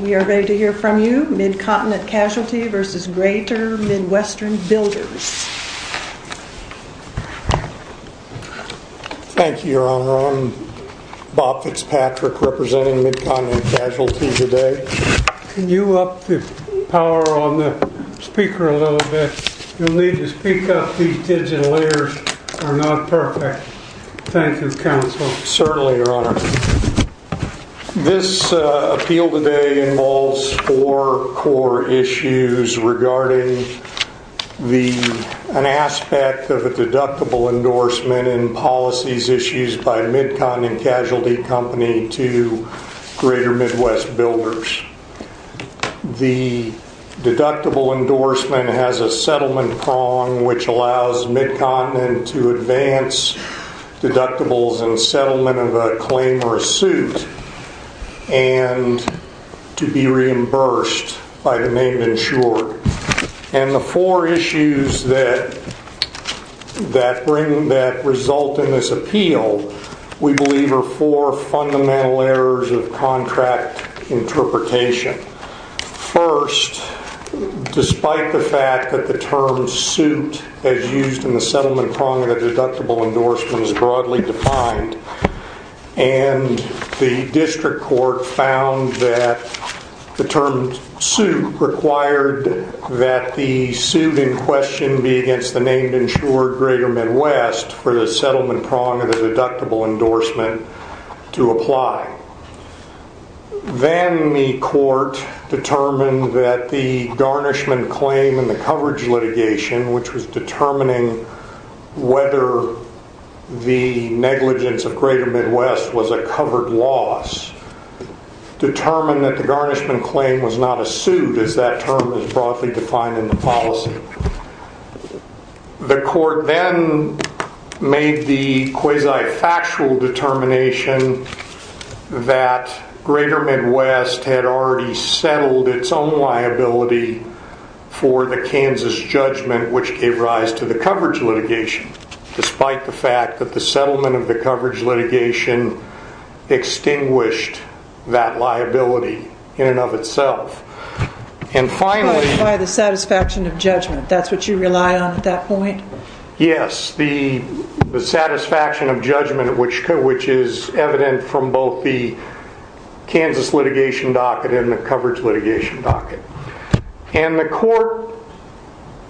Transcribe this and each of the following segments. We are ready to hear from you. Mid-Continent Casualty v. Greater Midwest Builders. Thank you, Your Honor. I'm Bob Fitzpatrick, representing Mid-Continent Casualty today. Can you up the power on the speaker a little bit? You'll need to speak up. These digital layers are not perfect. Thank you, Counsel. Certainly, Your Honor. This appeal today involves four core issues regarding an aspect of a deductible endorsement in policies issued by Mid-Continent Casualty Company to Greater Midwest Builders. The deductible endorsement has a settlement prong which allows Mid-Continent to advance deductibles in settlement of a claim or a suit and to be reimbursed by the named insured. The four issues that result in this appeal, we believe, are four fundamental errors of contract interpretation. First, despite the fact that the term suit as used in the settlement prong of the deductible endorsement is broadly defined and the district court found that the term suit required that the suit in question be against the named insured Greater Midwest for the settlement prong of the deductible endorsement to apply. Then the court determined that the garnishment claim in the coverage litigation, which was determining whether the negligence of Greater Midwest was a covered loss, determined that the garnishment claim was not a suit as that term is broadly defined in the policy. The court then made the quasi-factual determination that Greater Midwest had already settled its own liability for the Kansas judgment which gave rise to the coverage litigation, despite the fact that the settlement of the coverage litigation extinguished that liability in and of itself. By the satisfaction of judgment, that's what you rely on at that point? Yes, the satisfaction of judgment which is evident from both the Kansas litigation docket and the coverage litigation docket. The court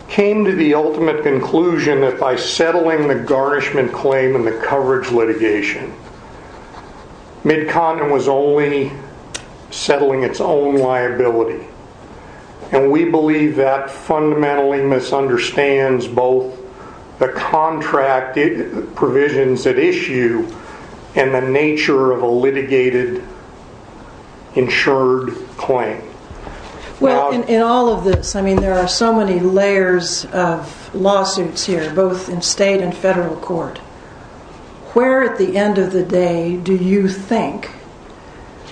came to the ultimate conclusion that by settling the garnishment claim in the coverage litigation, Mid-Continent was only settling its own liability. We believe that fundamentally misunderstands both the contract provisions at issue and the nature of a litigated insured claim. In all of this, there are so many layers of lawsuits here, both in state and federal court. Where at the end of the day do you think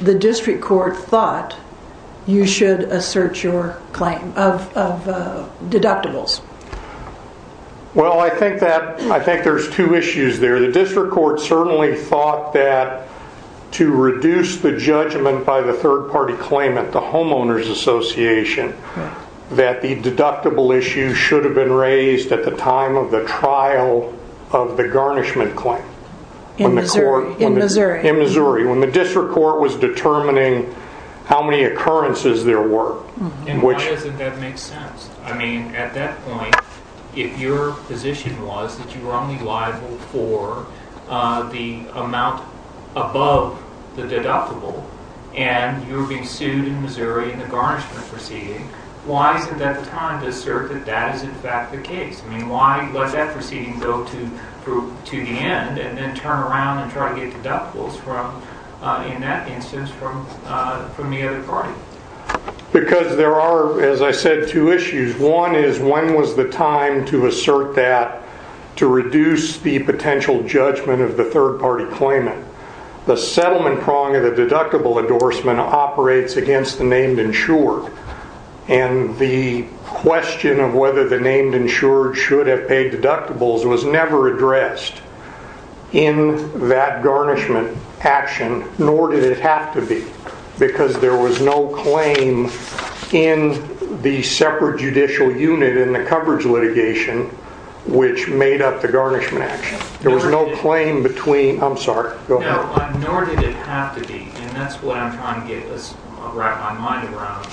the district court thought you should assert your claim of deductibles? I think there's two issues there. The district court certainly thought that to reduce the judgment by the third party claimant, the homeowners association, that the deductible issue should have been raised at the time of the trial of the garnishment claim. In Missouri? In Missouri. When the district court was determining how many occurrences there were. Why doesn't that make sense? At that point, if your position was that you were only liable for the amount above the deductible, and you were being sued in Missouri in the garnishment proceeding, why isn't that time to assert that that is in fact the case? Why let that proceeding go to the end and then turn around and try to get deductibles from, in that instance, from the other party? Because there are, as I said, two issues. One is when was the time to assert that to reduce the potential judgment of the third party claimant? The settlement prong of the deductible endorsement operates against the named insured. And the question of whether the named insured should have paid deductibles was never addressed in that garnishment action, nor did it have to be. Because there was no claim in the separate judicial unit in the coverage litigation which made up the garnishment action. There was no claim between, I'm sorry, go ahead. No, nor did it have to be, and that's what I'm trying to get my mind around.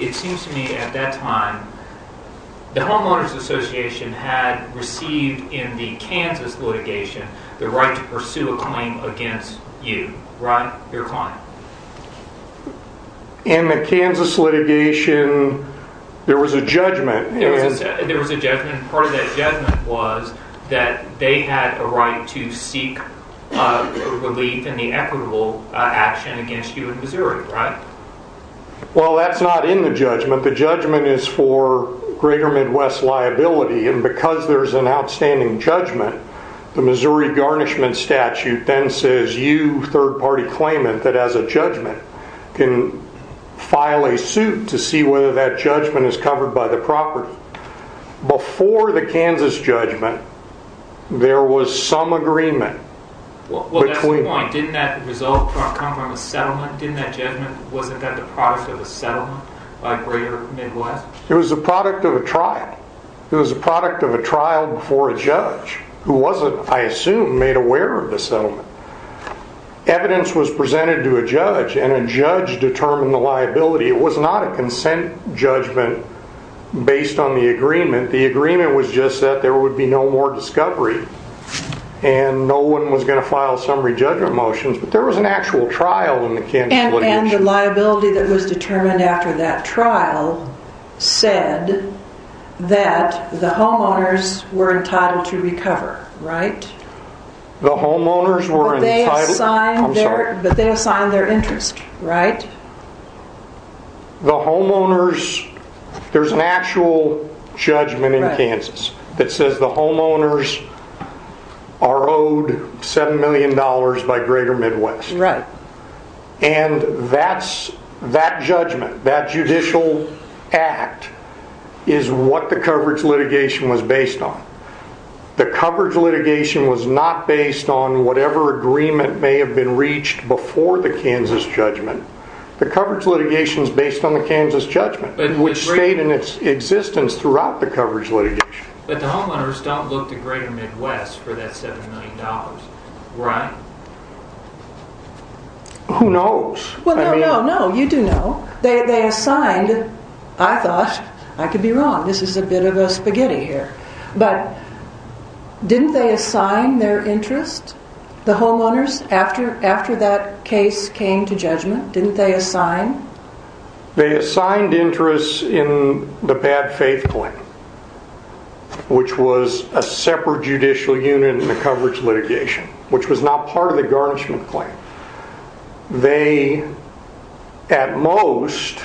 It seems to me at that time, the homeowners association had received in the Kansas litigation the right to pursue a claim against you, your client. In the Kansas litigation, there was a judgment. There was a judgment, and part of that judgment was that they had a right to seek relief in the equitable action against you in Missouri, right? Well, that's not in the judgment. The judgment is for greater Midwest liability, and because there's an outstanding judgment, the Missouri garnishment statute then says you, third party claimant, that has a judgment can file a suit to see whether that judgment is covered by the property. Before the Kansas judgment, there was some agreement. Well, that's the point. Didn't that result come from a settlement? Didn't that judgment, wasn't that the product of a settlement by greater Midwest? It was the product of a trial. It was the product of a trial before a judge, who wasn't, I assume, made aware of the settlement. Evidence was presented to a judge, and a judge determined the liability. It was not a consent judgment based on the agreement. The agreement was just that there would be no more discovery, and no one was going to file summary judgment motions, but there was an actual trial in the Kansas litigation. The liability that was determined after that trial said that the homeowners were entitled to recover, right? The homeowners were entitled. I'm sorry. But they assigned their interest, right? The homeowners, there's an actual judgment in Kansas that says the homeowners are owed $7 million by greater Midwest. Right. And that judgment, that judicial act, is what the coverage litigation was based on. The coverage litigation was not based on whatever agreement may have been reached before the Kansas judgment. The coverage litigation is based on the Kansas judgment, which stayed in its existence throughout the coverage litigation. But the homeowners don't look to greater Midwest for that $7 million, right? Who knows? Well, no, no, no. You do know. They assigned, I thought, I could be wrong. This is a bit of a spaghetti here. But didn't they assign their interest, the homeowners, after that case came to judgment? Didn't they assign? They assigned interest in the bad faith claim, which was a separate judicial unit in the coverage litigation, which was not part of the garnishment claim. They, at most,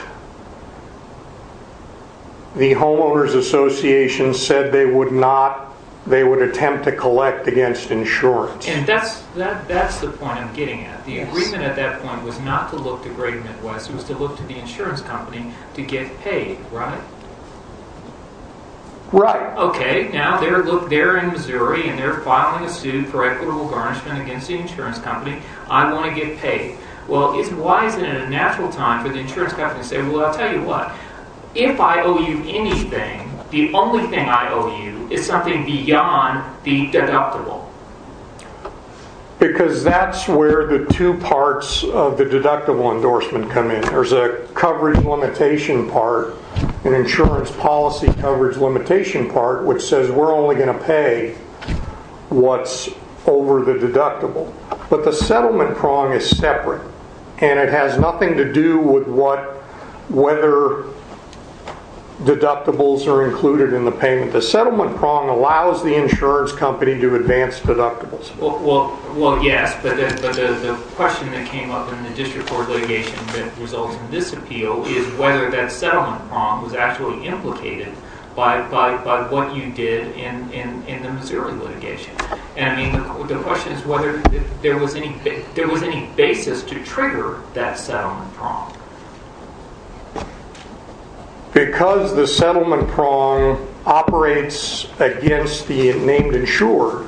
the homeowners association said they would attempt to collect against insurance. And that's the point I'm getting at. The agreement at that point was not to look to greater Midwest. It was to look to the insurance company to get paid, right? Right. Okay, now they're in Missouri and they're filing a suit for equitable garnishment against the insurance company. I want to get paid. Well, why isn't it a natural time for the insurance company to say, well, I'll tell you what. If I owe you anything, the only thing I owe you is something beyond the deductible. Because that's where the two parts of the deductible endorsement come in. There's a coverage limitation part, an insurance policy coverage limitation part, which says we're only going to pay what's over the deductible. But the settlement prong is separate. And it has nothing to do with whether deductibles are included in the payment. The settlement prong allows the insurance company to advance deductibles. Well, yes, but the question that came up in the district court litigation that results in this appeal is whether that settlement prong was actually implicated by what you did in the Missouri litigation. And the question is whether there was any basis to trigger that settlement prong. Because the settlement prong operates against the named insurer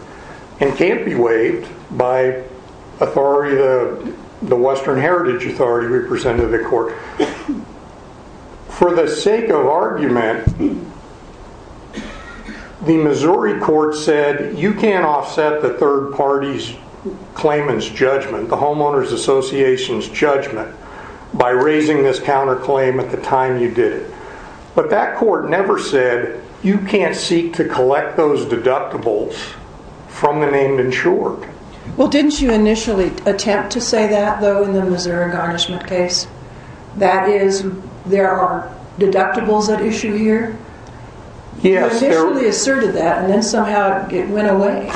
and can't be waived by the Western Heritage Authority representative court. For the sake of argument, the Missouri court said you can't offset the third party's claimant's judgment, the homeowner's association's judgment, by raising this counterclaim at the time you did it. But that court never said you can't seek to collect those deductibles from the named insurer. Well, didn't you initially attempt to say that, though, in the Missouri garnishment case? That is, there are deductibles at issue here? You initially asserted that, and then somehow it went away.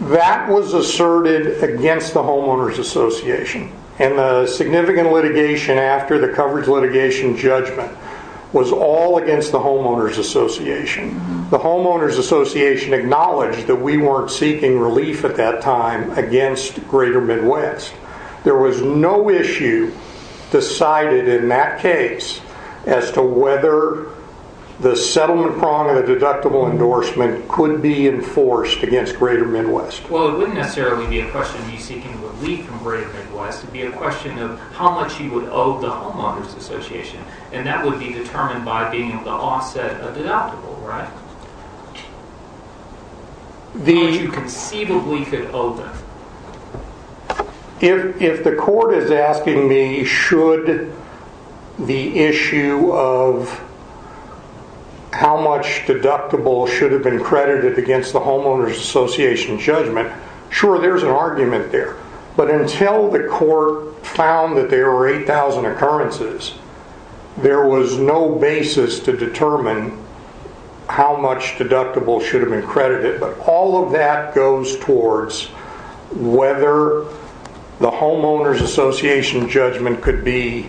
That was asserted against the homeowner's association. And the significant litigation after the coverage litigation judgment was all against the homeowner's association. The homeowner's association acknowledged that we weren't seeking relief at that time against Greater Midwest. There was no issue decided in that case as to whether the settlement prong of the deductible endorsement could be enforced against Greater Midwest. Well, it wouldn't necessarily be a question of you seeking relief from Greater Midwest. It would be a question of how much you would owe the homeowner's association. And that would be determined by being at the offset of deductible, right? How much you conceivably could owe them. If the court is asking me should the issue of how much deductible should have been credited against the homeowner's association's judgment, sure, there's an argument there. But until the court found that there were 8,000 occurrences, there was no basis to determine how much deductible should have been credited. But all of that goes towards whether the homeowner's association judgment could be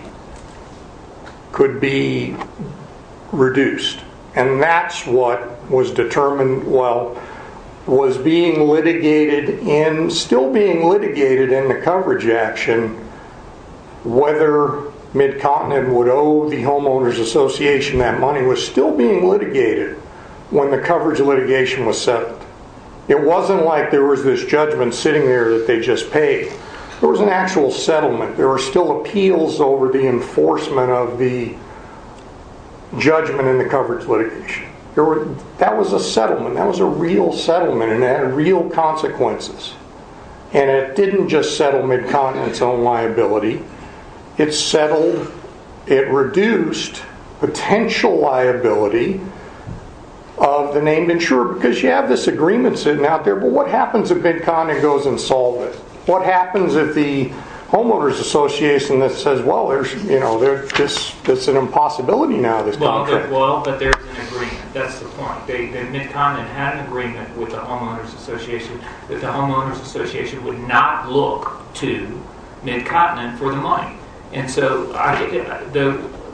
reduced. And that's what was being litigated and still being litigated in the coverage action. Whether Mid-Continent would owe the homeowner's association that money was still being litigated when the coverage litigation was settled. It wasn't like there was this judgment sitting there that they just paid. There was an actual settlement. There were still appeals over the enforcement of the judgment in the coverage litigation. That was a settlement. That was a real settlement and it had real consequences. And it didn't just settle Mid-Continent's own liability. It reduced potential liability of the named insurer because you have this agreement sitting out there. But what happens if Mid-Continent goes and solves it? What happens if the homeowner's association says, well, there's an impossibility now. Well, but there's an agreement. That's the point. Mid-Continent had an agreement with the homeowner's association that the homeowner's association would not look to Mid-Continent for the money. And so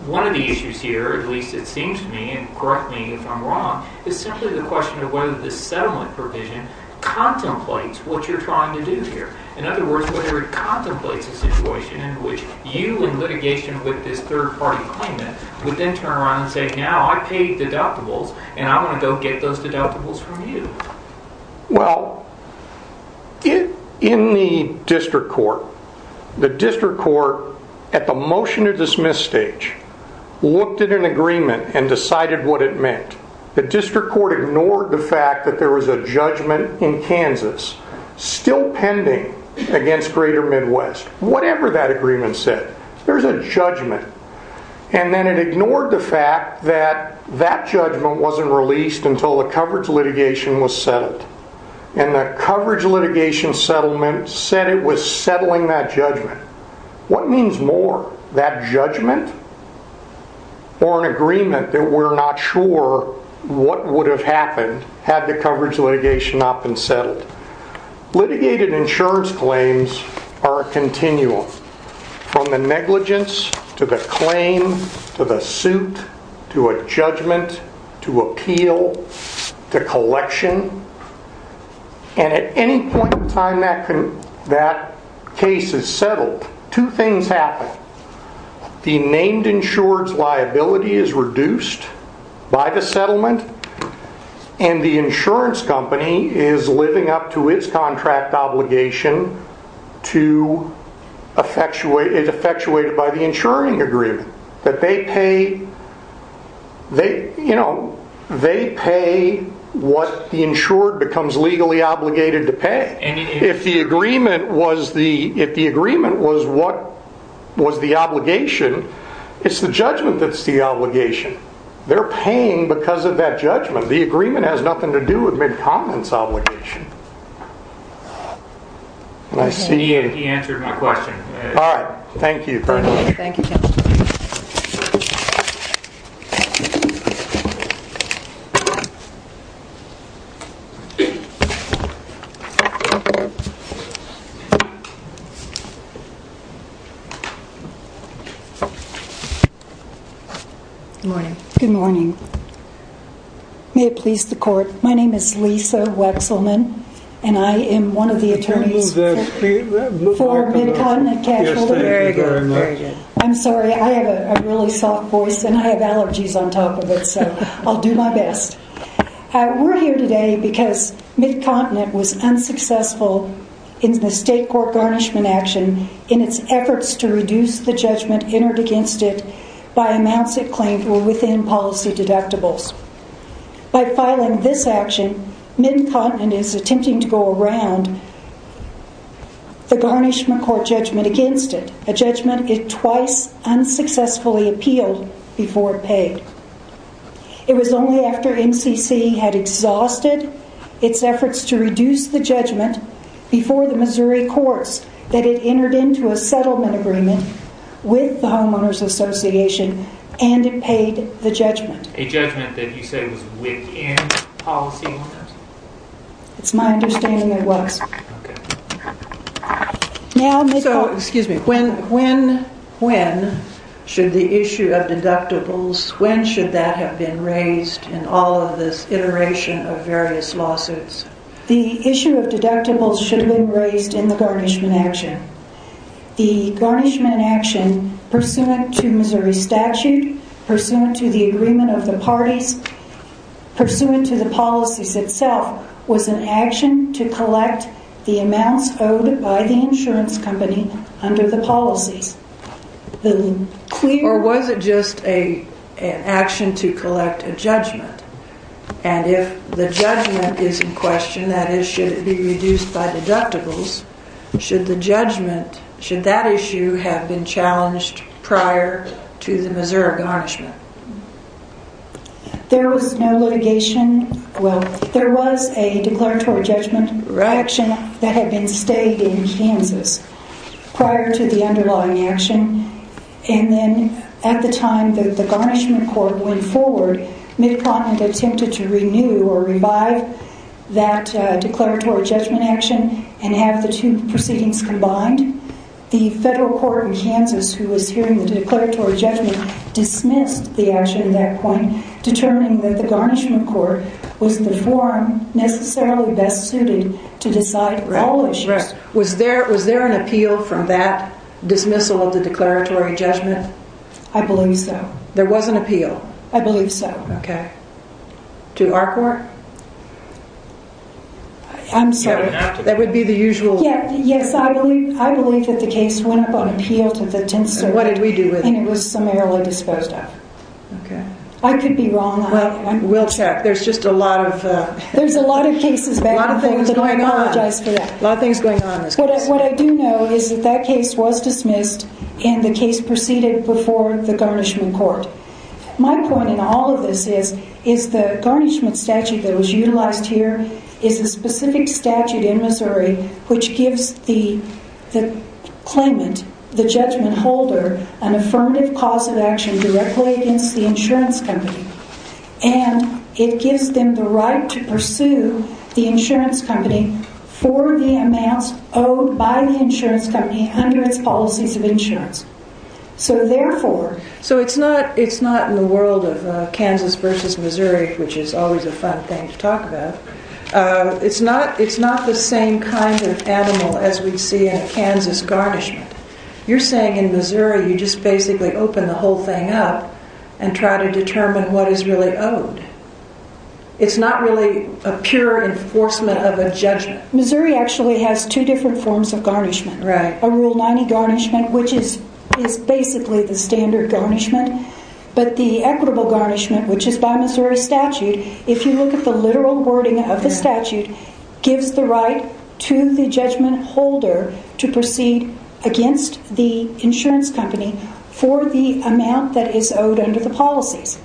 one of the issues here, at least it seems to me, and correct me if I'm wrong, is simply the question of whether the settlement provision contemplates what you're trying to do here. In other words, whether it contemplates a situation in which you, in litigation with this third-party claimant, would then turn around and say, now I paid deductibles and I want to go get those deductibles from you. Well, in the district court, the district court, at the motion to dismiss stage, looked at an agreement and decided what it meant. The district court ignored the fact that there was a judgment in Kansas still pending against Greater Midwest. Whatever that agreement said, there's a judgment. And then it ignored the fact that that judgment wasn't released until the coverage litigation was settled. And the coverage litigation settlement said it was settling that judgment. What means more? That judgment? Or an agreement that we're not sure what would have happened had the coverage litigation not been settled? Litigated insurance claims are a continuum. From the negligence, to the claim, to the suit, to a judgment, to appeal, to collection. And at any point in time that case is settled, two things happen. The named insured's liability is reduced by the settlement, and the insurance company is living up to its contract obligation to, it's effectuated by the insuring agreement. That they pay what the insured becomes legally obligated to pay. If the agreement was what was the obligation, it's the judgment that's the obligation. They're paying because of that judgment. The agreement has nothing to do with Mid-Continent's obligation. He answered my question. All right. Thank you. Good morning. May it please the court, my name is Lisa Wexelman, and I am one of the attorneys for Mid-Continent Casualty. Yes, thank you very much. I'm sorry, I have a really soft voice, and I have allergies on top of it, so I'll do my best. We're here today because Mid-Continent was unsuccessful in the state court garnishment action in its efforts to reduce the judgment entered against it by amounts it claimed were within policy deductibles. By filing this action, Mid-Continent is attempting to go around the garnishment court judgment against it, a judgment it twice unsuccessfully appealed before it paid. It was only after MCC had exhausted its efforts to reduce the judgment before the Missouri courts that it entered into a settlement agreement with the Homeowners Association and it paid the judgment. A judgment that you said was within policy? It's my understanding it was. Okay. So, excuse me, when should the issue of deductibles, when should that have been raised in all of this iteration of various lawsuits? The issue of deductibles should have been raised in the garnishment action. The garnishment action, pursuant to Missouri statute, pursuant to the agreement of the parties, pursuant to the policies itself, was an action to collect the amounts owed by the insurance company under the policies. Or was it just an action to collect a judgment? And if the judgment is in question, that is, should it be reduced by deductibles, should the judgment, should that issue have been challenged prior to the Missouri garnishment? There was no litigation. Well, there was a declaratory judgment action that had been stayed in Kansas prior to the underlying action. And then at the time that the garnishment court went forward, Mick Plotman attempted to renew or revive that declaratory judgment action and have the two proceedings combined. The federal court in Kansas, who was hearing the declaratory judgment, dismissed the action at that point, determining that the garnishment court was the form necessarily best suited to decide all issues. Was there an appeal from that dismissal of the declaratory judgment? I believe so. There was an appeal? I believe so. Okay. To our court? I'm sorry. That would be the usual. Yes, I believe that the case went up on appeal to the 10th Circuit. And what did we do with it? And it was summarily disposed of. Okay. I could be wrong on that one. Well, we'll check. There's just a lot of... There's a lot of cases back and forth and I apologize for that. A lot of things going on. A lot of things going on in this case. What I do know is that that case was dismissed and the case proceeded before the garnishment court. My point in all of this is the garnishment statute that was utilized here is a specific statute in Missouri which gives the claimant, the judgment holder, an affirmative cause of action directly against the insurance company. And it gives them the right to pursue the insurance company for the amounts owed by the insurance company under its policies of insurance. So therefore... So it's not in the world of Kansas versus Missouri, which is always a fun thing to talk about. It's not the same kind of animal as we see in Kansas garnishment. You're saying in Missouri you just basically open the whole thing up and try to determine what is really owed. It's not really a pure enforcement of a judgment. Missouri actually has two different forms of garnishment. Right. We have rule 90 garnishment, which is basically the standard garnishment. But the equitable garnishment, which is by Missouri statute, if you look at the literal wording of the statute, gives the right to the judgment holder to proceed against the insurance company for the amount that is owed under the policies.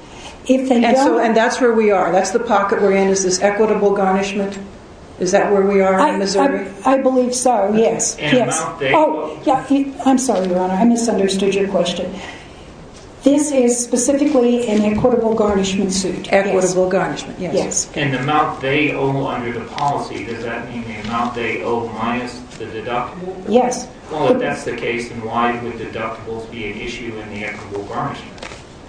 And that's where we are? That's the pocket we're in? Is this equitable garnishment? Is that where we are in Missouri? I believe so, yes. I'm sorry, Your Honor. I misunderstood your question. This is specifically an equitable garnishment suit? Equitable garnishment, yes. And the amount they owe under the policy, does that mean the amount they owe minus the deductible? Yes. Well, if that's the case, then why would deductibles be an issue in the equitable garnishment?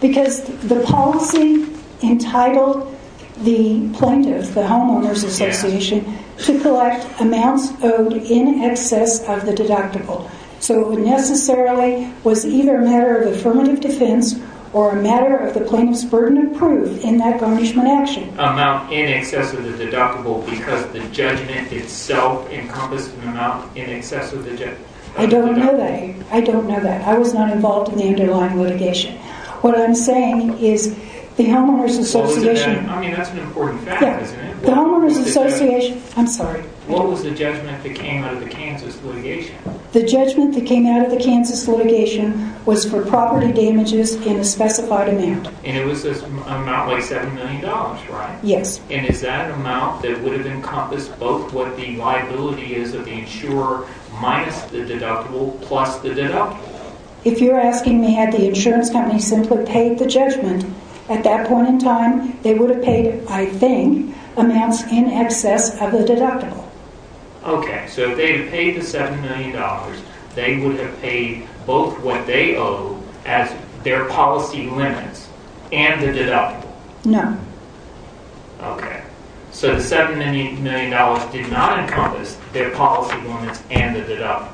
Because the policy entitled the plaintiff, the homeowner's association, to collect amounts owed in excess of the deductible. So it necessarily was either a matter of affirmative defense or a matter of the plaintiff's burden of proof in that garnishment action. Amount in excess of the deductible because the judgment itself encompassed an amount in excess of the deductible. I don't know that. I don't know that. I was not involved in the underlying litigation. What I'm saying is the homeowner's association... I mean, that's an important fact, isn't it? The homeowner's association... I'm sorry. What was the judgment that came out of the Kansas litigation? The judgment that came out of the Kansas litigation was for property damages in a specified amount. And it was an amount like $7 million, right? Yes. And is that an amount that would have encompassed both what the liability is of the insurer minus the deductible plus the deductible? If you're asking me had the insurance company simply paid the judgment, at that point in time, they would have paid, I think, amounts in excess of the deductible. Okay. So if they had paid the $7 million, they would have paid both what they owe as their policy limits and the deductible. No. Okay. So the $7 million did not encompass their policy limits and the deductible.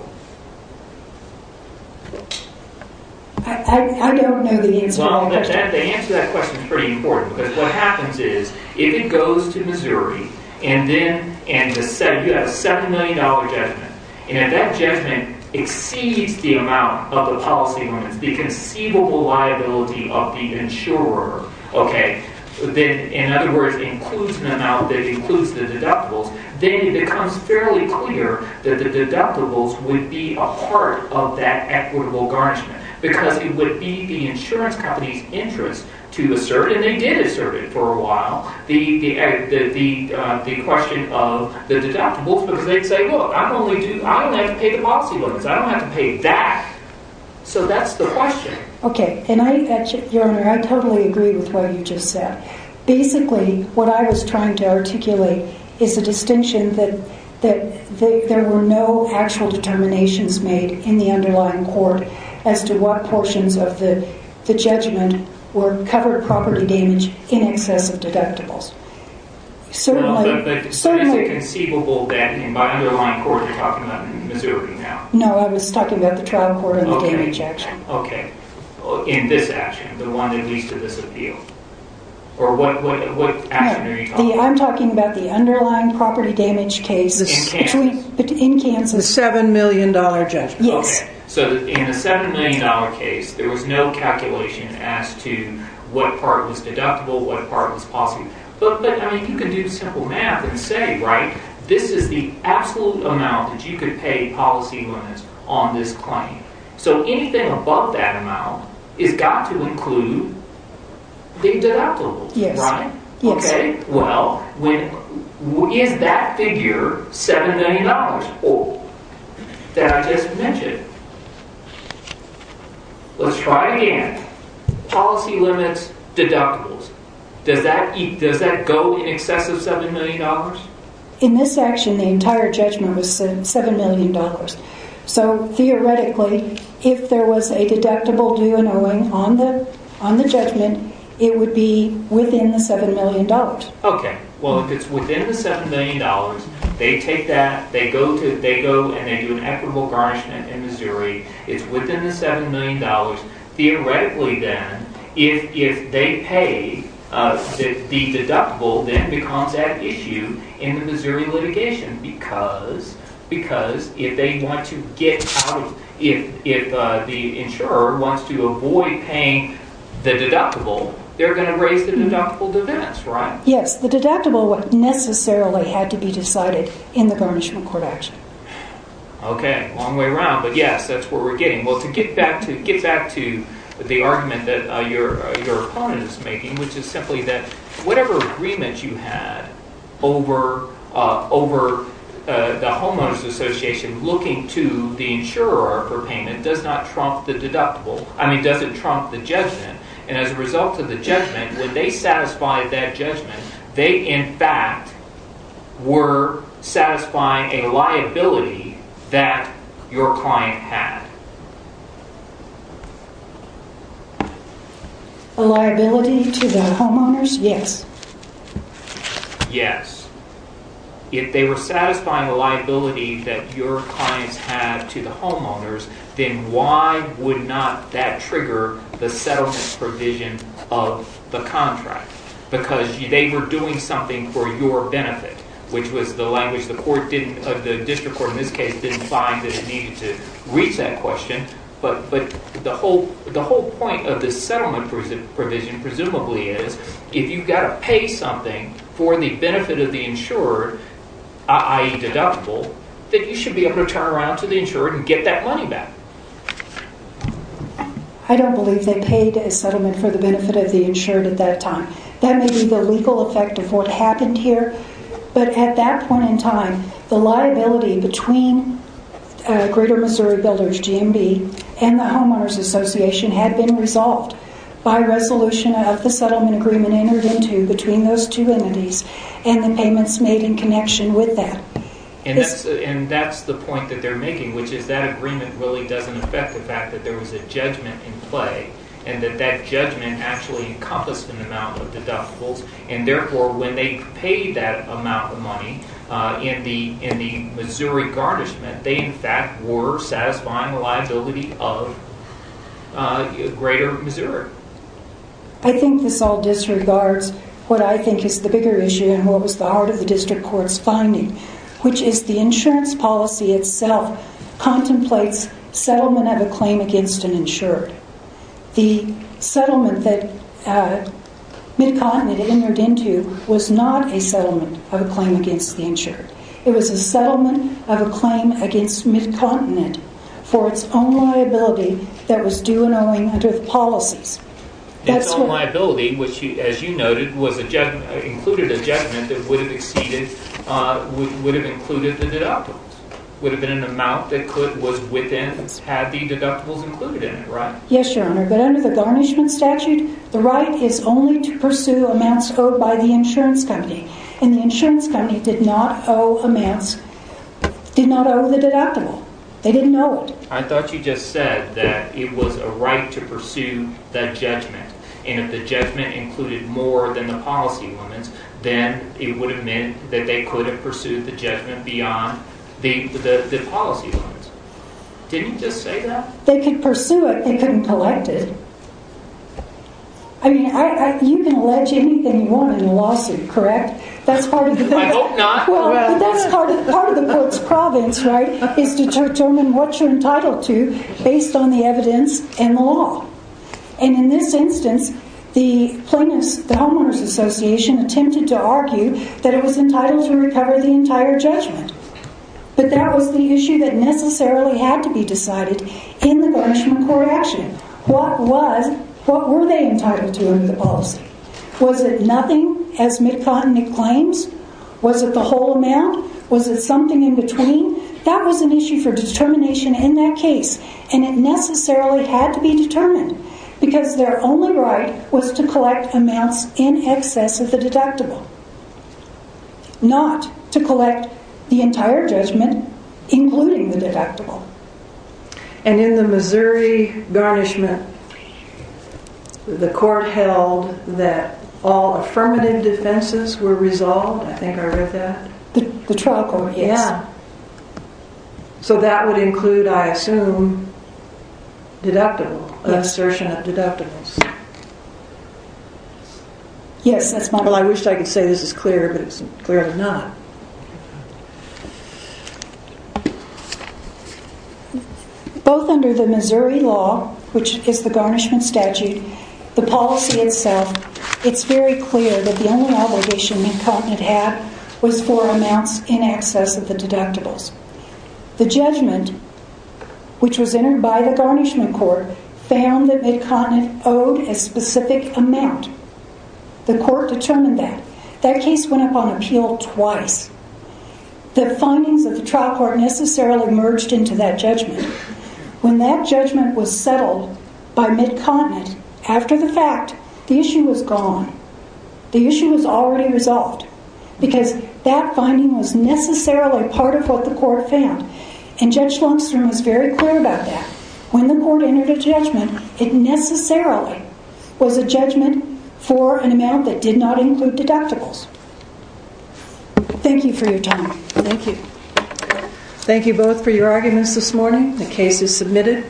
I don't know the answer to that question. Well, the answer to that question is pretty important. Because what happens is if it goes to Missouri and you have a $7 million judgment, and if that judgment exceeds the amount of the policy limits, the conceivable liability of the insurer... in other words, includes an amount that includes the deductibles, then it becomes fairly clear that the deductibles would be a part of that equitable garnishment. Because it would be the insurance company's interest to assert, and they did assert it for a while, the question of the deductibles. Because they'd say, well, I only have to pay the policy limits. I don't have to pay that. So that's the question. Okay. And, Your Honor, I totally agree with what you just said. Basically, what I was trying to articulate is a distinction that there were no actual determinations made in the underlying court as to what portions of the judgment covered property damage in excess of deductibles. Certainly... But is it conceivable that in my underlying court you're talking about Missouri now? No, I was talking about the trial court and the damage action. Okay. In this action, the one that leads to this appeal. Or what action are you talking about? I'm talking about the underlying property damage case. In Kansas? In Kansas. The $7 million judgment. Yes. Okay. So in the $7 million case, there was no calculation as to what part was deductible, what part was possible. But, I mean, you could do simple math and say, right, this is the absolute amount that you could pay policy limits on this claim. So anything above that amount has got to include the deductibles, right? Yes. Okay. Well, is that figure $7 million or that I just mentioned? Let's try again. Policy limits, deductibles. Does that go in excess of $7 million? In this action, the entire judgment was $7 million. So theoretically, if there was a deductible due and owing on the judgment, it would be within the $7 million. Okay. Well, if it's within the $7 million, they take that, they go and they do an equitable garnishment in Missouri. It's within the $7 million. Theoretically, then, if they pay, the deductible then becomes at issue in the Missouri litigation. Because if the insurer wants to avoid paying the deductible, they're going to raise the deductible dividends, right? Yes. The deductible necessarily had to be decided in the garnishment court action. Okay. Long way around. But, yes, that's what we're getting. Well, to get back to the argument that your opponent is making, which is simply that whatever agreement you had over the homeowners association looking to the insurer for payment does not trump the deductible. I mean, does it trump the judgment? And as a result of the judgment, when they satisfied that judgment, they, in fact, were satisfying a liability that your client had. A liability to the homeowners? Yes. Yes. If they were satisfying a liability that your clients had to the homeowners, then why would not that trigger the settlement provision of the contract? Because they were doing something for your benefit, which was the language the district court, in this case, didn't find that it needed to reach that question. But the whole point of this settlement provision, presumably, is if you've got to pay something for the benefit of the insurer, i.e. deductible, that you should be able to turn around to the insurer and get that money back. I don't believe they paid a settlement for the benefit of the insured at that time. That may be the legal effect of what happened here, but at that point in time, the liability between Greater Missouri Builders, GMB, and the homeowners association had been resolved by resolution of the settlement agreement entered into between those two entities and the payments made in connection with that. And that's the point that they're making, which is that agreement really doesn't affect the fact that there was a judgment in play, and that that judgment actually encompassed an amount of deductibles. And therefore, when they paid that amount of money in the Missouri garnishment, they, in fact, were satisfying a liability of Greater Missouri. I think this all disregards what I think is the bigger issue and what was the heart of the district court's finding, which is the insurance policy itself contemplates settlement of a claim against an insured. The settlement that MidContinent entered into was not a settlement of a claim against the insured. It was a settlement of a claim against MidContinent for its own liability that was due and owing under the policies. Its own liability, which, as you noted, included a judgment that would have included the deductibles. It would have been an amount that was within, had the deductibles included in it, right? Yes, Your Honor, but under the garnishment statute, the right is only to pursue amounts owed by the insurance company, and the insurance company did not owe the deductible. They didn't owe it. I thought you just said that it was a right to pursue that judgment, and if the judgment included more than the policy limits, then it would have meant that they could have pursued the judgment beyond the policy limits. Didn't you just say that? They could pursue it. They couldn't collect it. I mean, you can allege anything you want in a lawsuit, correct? I hope not. Well, but that's part of the, quote, province, right, is to determine what you're entitled to based on the evidence and the law. And in this instance, the plaintiffs, the Homeowners Association, attempted to argue that it was entitled to recover the entire judgment. But that was the issue that necessarily had to be decided in the garnishment court action. What was, what were they entitled to under the policy? Was it nothing as MidContinent claims? Was it the whole amount? Was it something in between? That was an issue for determination in that case, and it necessarily had to be determined, because their only right was to collect amounts in excess of the deductible, not to collect the entire judgment, including the deductible. And in the Missouri garnishment, the court held that all affirmative defenses were resolved. I think I read that. The trial court, yes. So that would include, I assume, deductible, an assertion of deductibles. Yes, that's my point. Well, I wish I could say this is clear, but it's clearly not. Both under the Missouri law, which is the garnishment statute, the policy itself, it's very clear that the only obligation MidContinent had was for amounts in excess of the deductibles. The judgment, which was entered by the garnishment court, found that MidContinent owed a specific amount. The court determined that. That case went up on appeal twice. The findings of the trial court necessarily merged into that judgment. When that judgment was settled by MidContinent, after the fact, the issue was gone. The issue was already resolved, because that finding was necessarily part of what the court found. And Judge Lungstrom was very clear about that. When the court entered a judgment, it necessarily was a judgment for an amount that did not include deductibles. Thank you for your time. Thank you. Thank you both for your arguments this morning. The case is submitted.